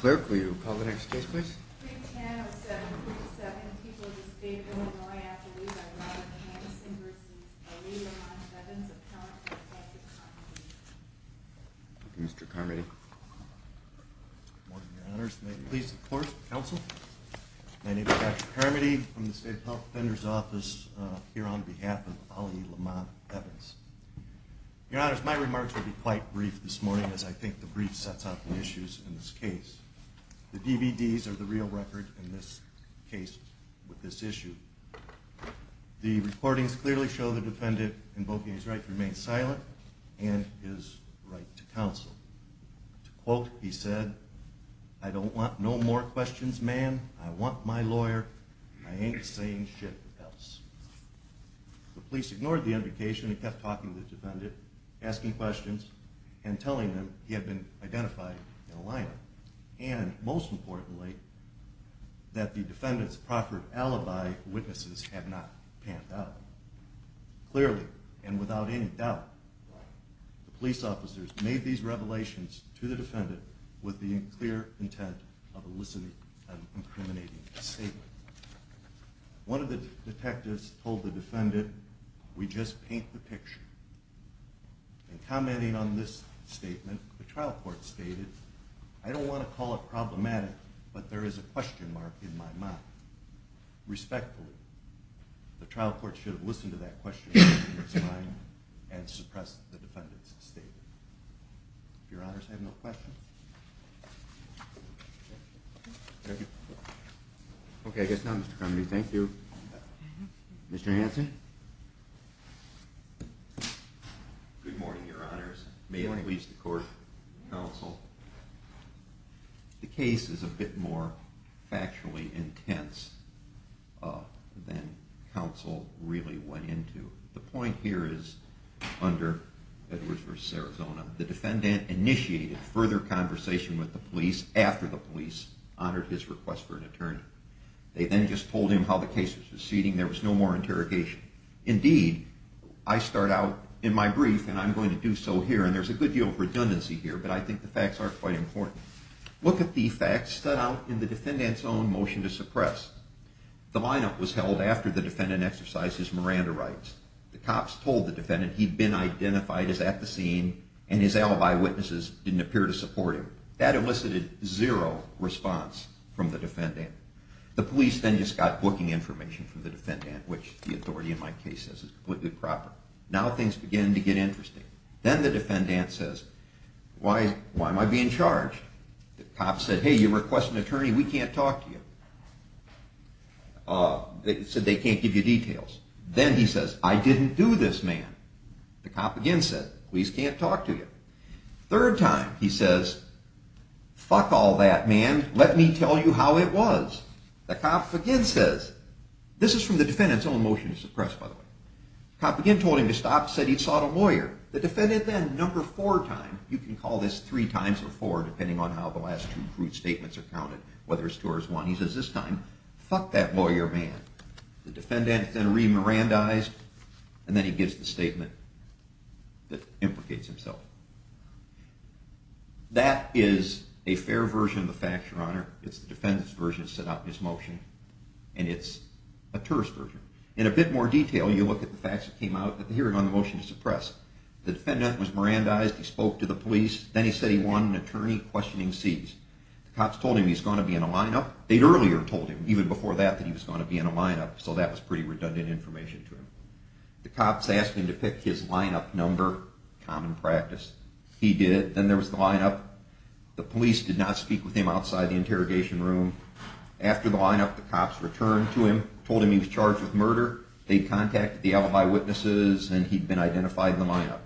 clerk, will you call the next case, please? Mr. Karmody, please. Of course, counsel. My name is Dr. Karmody from the State Health Offender's Office here on behalf of Ali Lamont Evans. Your honors, my remarks will be quite brief this morning as I think the brief sets out the issues in this case. The DVDs are the real record in this case with this issue. The recordings clearly show the defendant invoking his right to remain silent and his right to counsel. To quote, he said, I don't want no more questions, man. I want my lawyer. I ain't saying shit else. The police ignored the invocation and kept talking to the defendant, asking questions and telling them he had been identified in a lineup. And most importantly, that the defendant's proffered alibi witnesses had not panned out. Clearly and without any doubt, the police officers made these revelations to the defendant with the clear intent of eliciting an incriminating statement. One of the detectives told the defendant, we just paint the picture. In commenting on this statement, the trial court stated, I don't want to call it problematic, but there is a question mark in my mind. Respectfully, the trial court should have listened to that question in its mind and suppressed the defendant's your honors. I have no question. Okay, I guess not. Mr Kennedy. Thank you, Mr Hanson. Good morning, Your Honors. May I please the court counsel? The case is a bit more factually intense than counsel really went into. The point here is under Edwards versus Arizona. The defendant initiated further conversation with the police after the police honored his request for an attorney. They then just told him how the case was proceeding. There was no more interrogation. Indeed, I start out in my brief and I'm going to do so here and there's a good deal of redundancy here, but I think the facts are quite important. Look at the facts that out in the defendant's own motion to suppress. The lineup was held after the defendant exercises Miranda rights. The cops told the defendant he'd been identified as at the scene and his alibi witnesses didn't appear to support him. That elicited zero response from the defendant. The police then just got booking information from the defendant, which the authority in my case says is completely proper. Now things begin to get interesting. Then the defendant says, Why? Why am I being charged? The cops said, Hey, you request an attorney. We can't talk to you. Uh, they said they can't give you details. Then he says, I didn't do this, man. The cop again said, Please can't talk to you. Third time, he says, Fuck all that, man. Let me tell you how it was. The cop again says, This is from the defendant's own motion to suppress. By the way, cop again told him to stop, said he sought a lawyer. The defendant then number four time. You can call this three times before, depending on how the last two fruit statements are counted, whether it's two or one. He says this time, Fuck that lawyer, man. The defendant then re-Miranda eyes, and then he gives the statement that implicates himself. That is a fair version of the facts, your honor. It's the defendant's version set up his motion, and it's a tourist version. In a bit more detail, you look at the facts that came out at the hearing on the motion to suppress. The defendant was Miranda eyes. He spoke to the police. Then he said he won an lineup. They'd earlier told him even before that that he was going to be in a lineup, so that was pretty redundant information to him. The cops asked him to pick his lineup number. Common practice. He did. Then there was the lineup. The police did not speak with him outside the interrogation room. After the lineup, the cops returned to him, told him he was charged with murder. They contacted the alibi witnesses, and he'd been identified in the lineup.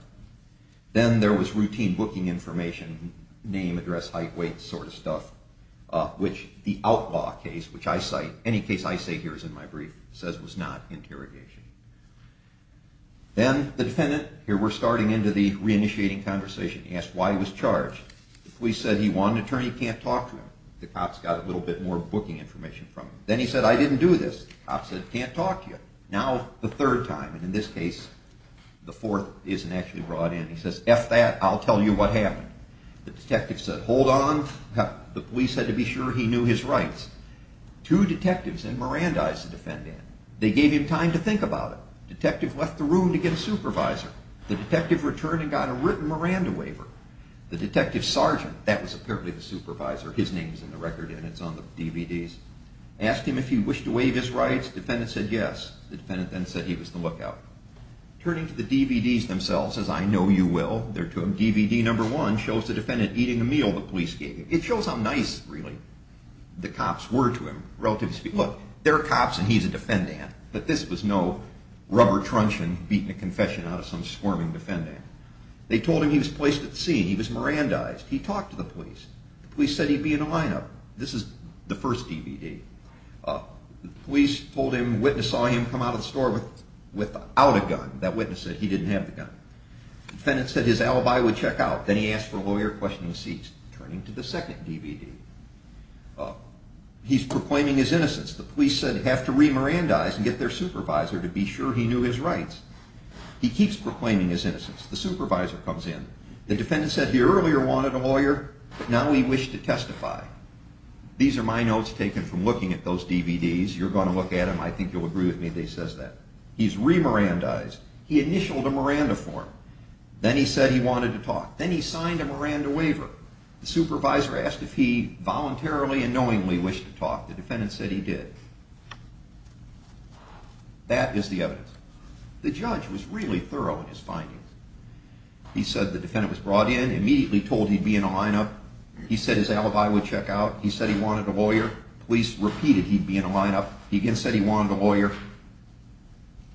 Then there was routine booking information, name, address, height, weight, sort of stuff, which the outlaw case, which I cite, any case I say here is in my brief, says it was not interrogation. Then the defendant, here we're starting into the reinitiating conversation, he asked why he was charged. The police said he won an attorney, can't talk to him. The cops got a little bit more booking information from him. Then he said, I didn't do this. The cops said, can't talk to you. Now, the third time, and in this case, the fourth isn't actually brought in. He says, F that, I'll tell you what happened. The detective said, hold on. The police had to be sure he knew his rights. Two detectives and Mirandize, the defendant. They gave him time to think about it. Detective left the room to get a supervisor. The detective returned and got a written Miranda waiver. The detective sergeant, that was apparently the supervisor, his name's in the record and it's on the DVDs, asked him if he wished to waive his rights. Defendant said yes. The defendant then said he was the lookout. Turning to the DVDs themselves, says, I know you will. They're to him. DVD number one shows the defendant eating a meal the police gave him. It shows how nice, really, the cops were to him, relatively speaking. Look, they're cops and he's a defendant, but this was no rubber truncheon beating a confession out of some squirming defendant. They told him he was placed at the scene. He was Mirandized. He talked to the police. The police said he'd be in a lineup. This is the first DVD. Police told him, witness saw him come out of the store without a gun. That witness said he didn't have the gun. Defendant said his alibi would check out. Then he asked for a lawyer, questioning the seats. Turning to the second DVD. He's proclaiming his innocence. The police said, have to re-Mirandize and get their supervisor to be sure he knew his rights. He keeps proclaiming his innocence. The supervisor comes in. The defendant said he earlier wanted a lawyer, but now he wished to testify. These are my notes taken from looking at those DVDs. You're gonna look at them. I think you'll agree with me if he says that. He's re-Mirandized. He initialed a Miranda form. Then he said he wanted to talk. Then he signed a Miranda waiver. The supervisor asked if he voluntarily and knowingly wished to talk. The defendant said he did. That is the evidence. The judge was really thorough in his findings. He said the defendant was brought in, immediately told he'd be in a lineup. He said his alibi would check out. He said he wanted a lawyer. Police repeated he'd be in a lineup. He again said he wanted a lawyer.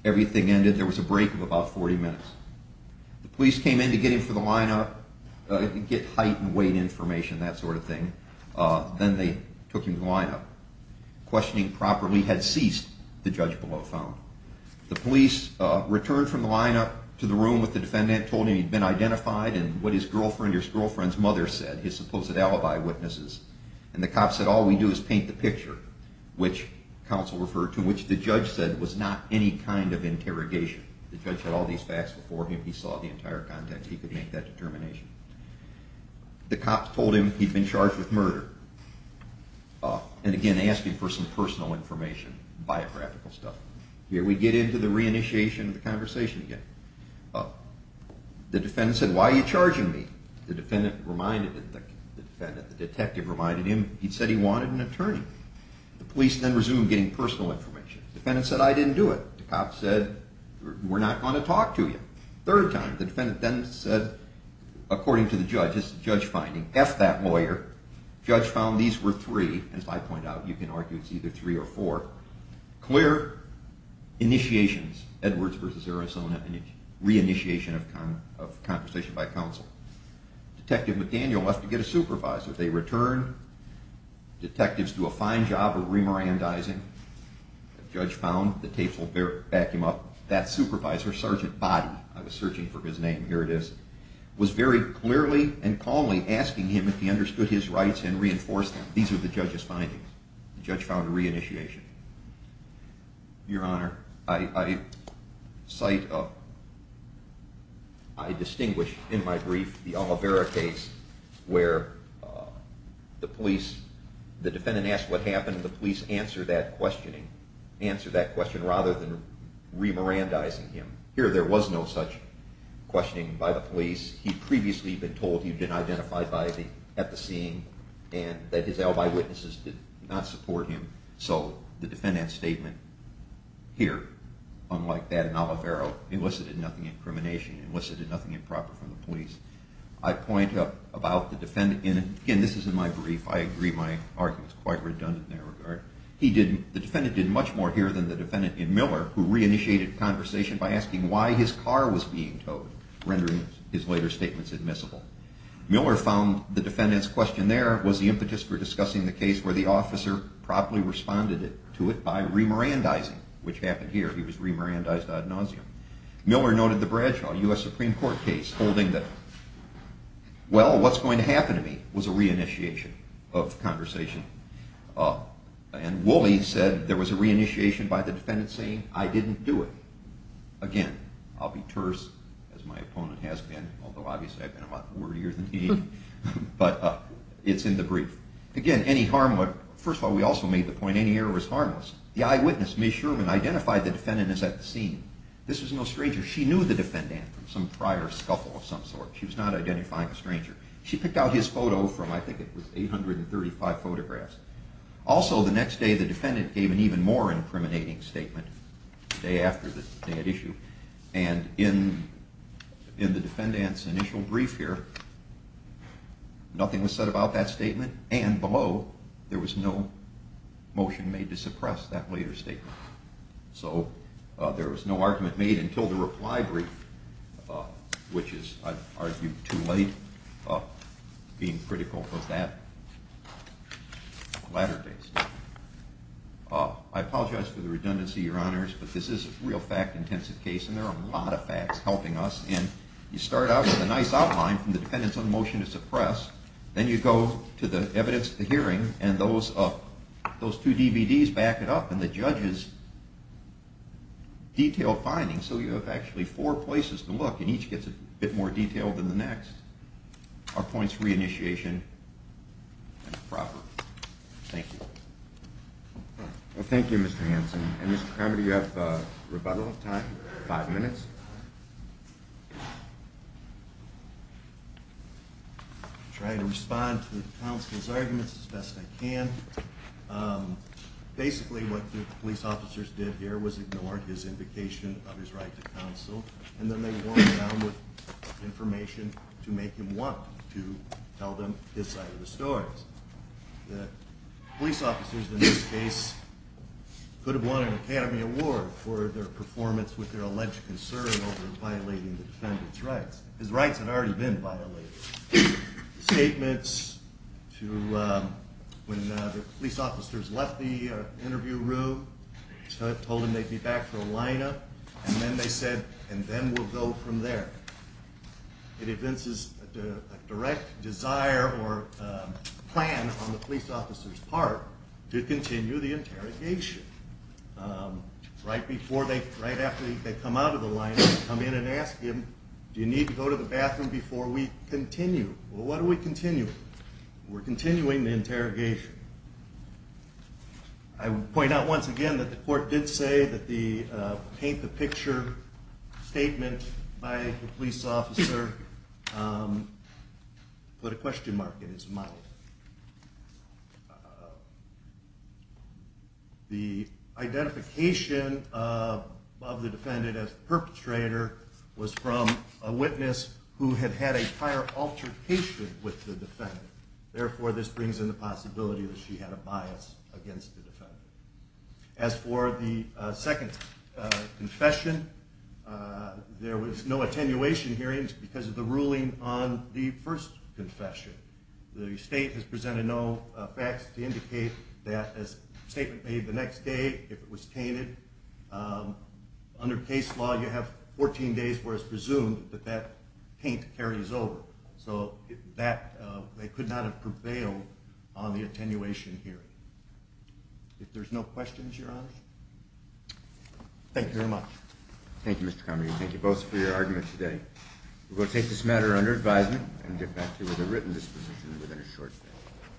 Everything ended. There was a break of about 40 minutes. The police came in to get him for the lineup, get height and weight information, that sort of thing. Then they took him to the lineup. Questioning properly had ceased, the judge below found. The police returned from the lineup to the room with the defendant, told him he'd been identified and what his girlfriend or his girlfriend's mother said, his supposed alibi witnesses. And the cop said, all we do is paint the picture, which counsel referred to, which the judge said was not any kind of interrogation. The judge had all these facts before him. He saw the entire context. He could make that determination. The cops told him he'd been charged with murder. And again, asked him for some personal information, biographical stuff. Here we get into the reinitiation of the conversation again. The defendant said, why are you charging me? The defendant reminded that the defendant, the detective reminded him he'd said he wanted an alibi. The police then resumed getting personal information. Defendant said, I didn't do it. The cop said, we're not gonna talk to you. Third time, the defendant then said, according to the judge, this is a judge finding. F that lawyer. Judge found these were three. As I point out, you can argue it's either three or four. Clear initiations, Edwards versus Arizona, and a reinitiation of conversation by counsel. Detective McDaniel left to get a supervisor. They returned. Detectives do a fine job of remorandizing. The judge found the tapes will back him up. That supervisor, Sergeant Body, I was searching for his name. Here it is, was very clearly and calmly asking him if he understood his rights and reinforced them. These are the judge's findings. The judge found a reinitiation. Your Honor, I cite a I distinguish in my brief the Oliveira case where the police, the defendant asked what happened. The police answer that questioning, answer that question rather than remorandizing him. Here there was no such questioning by the police. He previously been told he'd been identified by the at the scene and that his alibi witnesses did not support him. So the defendant's statement here, unlike that in Oliveira, elicited nothing incrimination, elicited nothing improper from the police. I point up about the defendant in, again, this is in my brief. I agree my argument's quite redundant in that regard. He did, the defendant did much more here than the defendant in Miller, who reinitiated conversation by asking why his car was being towed, rendering his later statements admissible. Miller found the defendant's question there was the impetus for discussing the case where the officer properly responded to it by remorandizing, which happened here. He was remorandized ad nauseum. Miller noted the Bradshaw U.S. Supreme Court case, holding that well, what's going to happen to me was a reinitiation of conversation. And Woolley said there was a reinitiation by the defendant saying I didn't do it. Again, I'll be terse as my opponent has been, although obviously I've been a lot wordier than he, but it's in the brief. Again, any harm, but first of all, we also made the point, any error was harmless. The eyewitness, Ms. Sherman, identified the defendant as at the scene. This was no stranger. She knew the defendant from some prior scuffle of some sort. She was not identifying a stranger. She picked out his photo from, I think it was 835 photographs. Also, the next day, the defendant gave an even more incriminating statement the day after the issue. And in the defendant's initial brief here, nothing was said about that statement. And below, there was no motion made to suppress that later statement. So there was no argument made until the reply brief, which is, I'd argue, too late being critical of that latter day statement. I apologize for the redundancy, Your Honors, but this is a real fact intensive case, and there are a lot of facts helping us. And you start out with a nice outline from the dependents on the motion to suppress. Then you go to the evidence of the hearing, and those two DVDs back it up. And the judge's detailed findings, so you have actually four places to look, and each gets a bit more detail than the next, are points for re-initiation and proper. Thank you. Well, thank you, Mr. Hanson. And Mr. Kramer, do you have rebuttal time? Five minutes? I'll try to respond to the counsel's arguments as best I can. Basically, what the police officers did here was ignore his invocation of his right to counsel, and then they wore him down with information to make him want to tell them his side of the story. The police officers, in this case, could have won an Academy Award for their performance with their alleged concern over violating the defendant's rights. His rights had already been violated. Statements to when the police officers left the interview room, told him they'd be back for a lineup, and then they said, and then we'll go from there. It evinces a direct desire or plan on the police officer's part to continue the interrogation. Right after they come out of the lineup, come in and ask him, do you need to go to the bathroom before we continue? Well, what are we I would point out once again that the court did say that the paint the picture statement by the police officer put a question mark in his mouth. The identification of the defendant as perpetrator was from a witness who had had a prior altercation with the defendant. Therefore, this brings in the possibility that she had a bias against the defendant. As for the second confession, there was no attenuation hearings because of the ruling on the first confession. The state has presented no facts to indicate that as statement made the next day, if it was tainted. Under case law, you have 14 days where it's not a prevail on the attenuation hearing. If there's no questions, your honor. Thank you very much. Thank you, Mr. Comrie. Thank you both for your argument today. We'll take this matter under advisement and get back to you with a written disposition within a short time.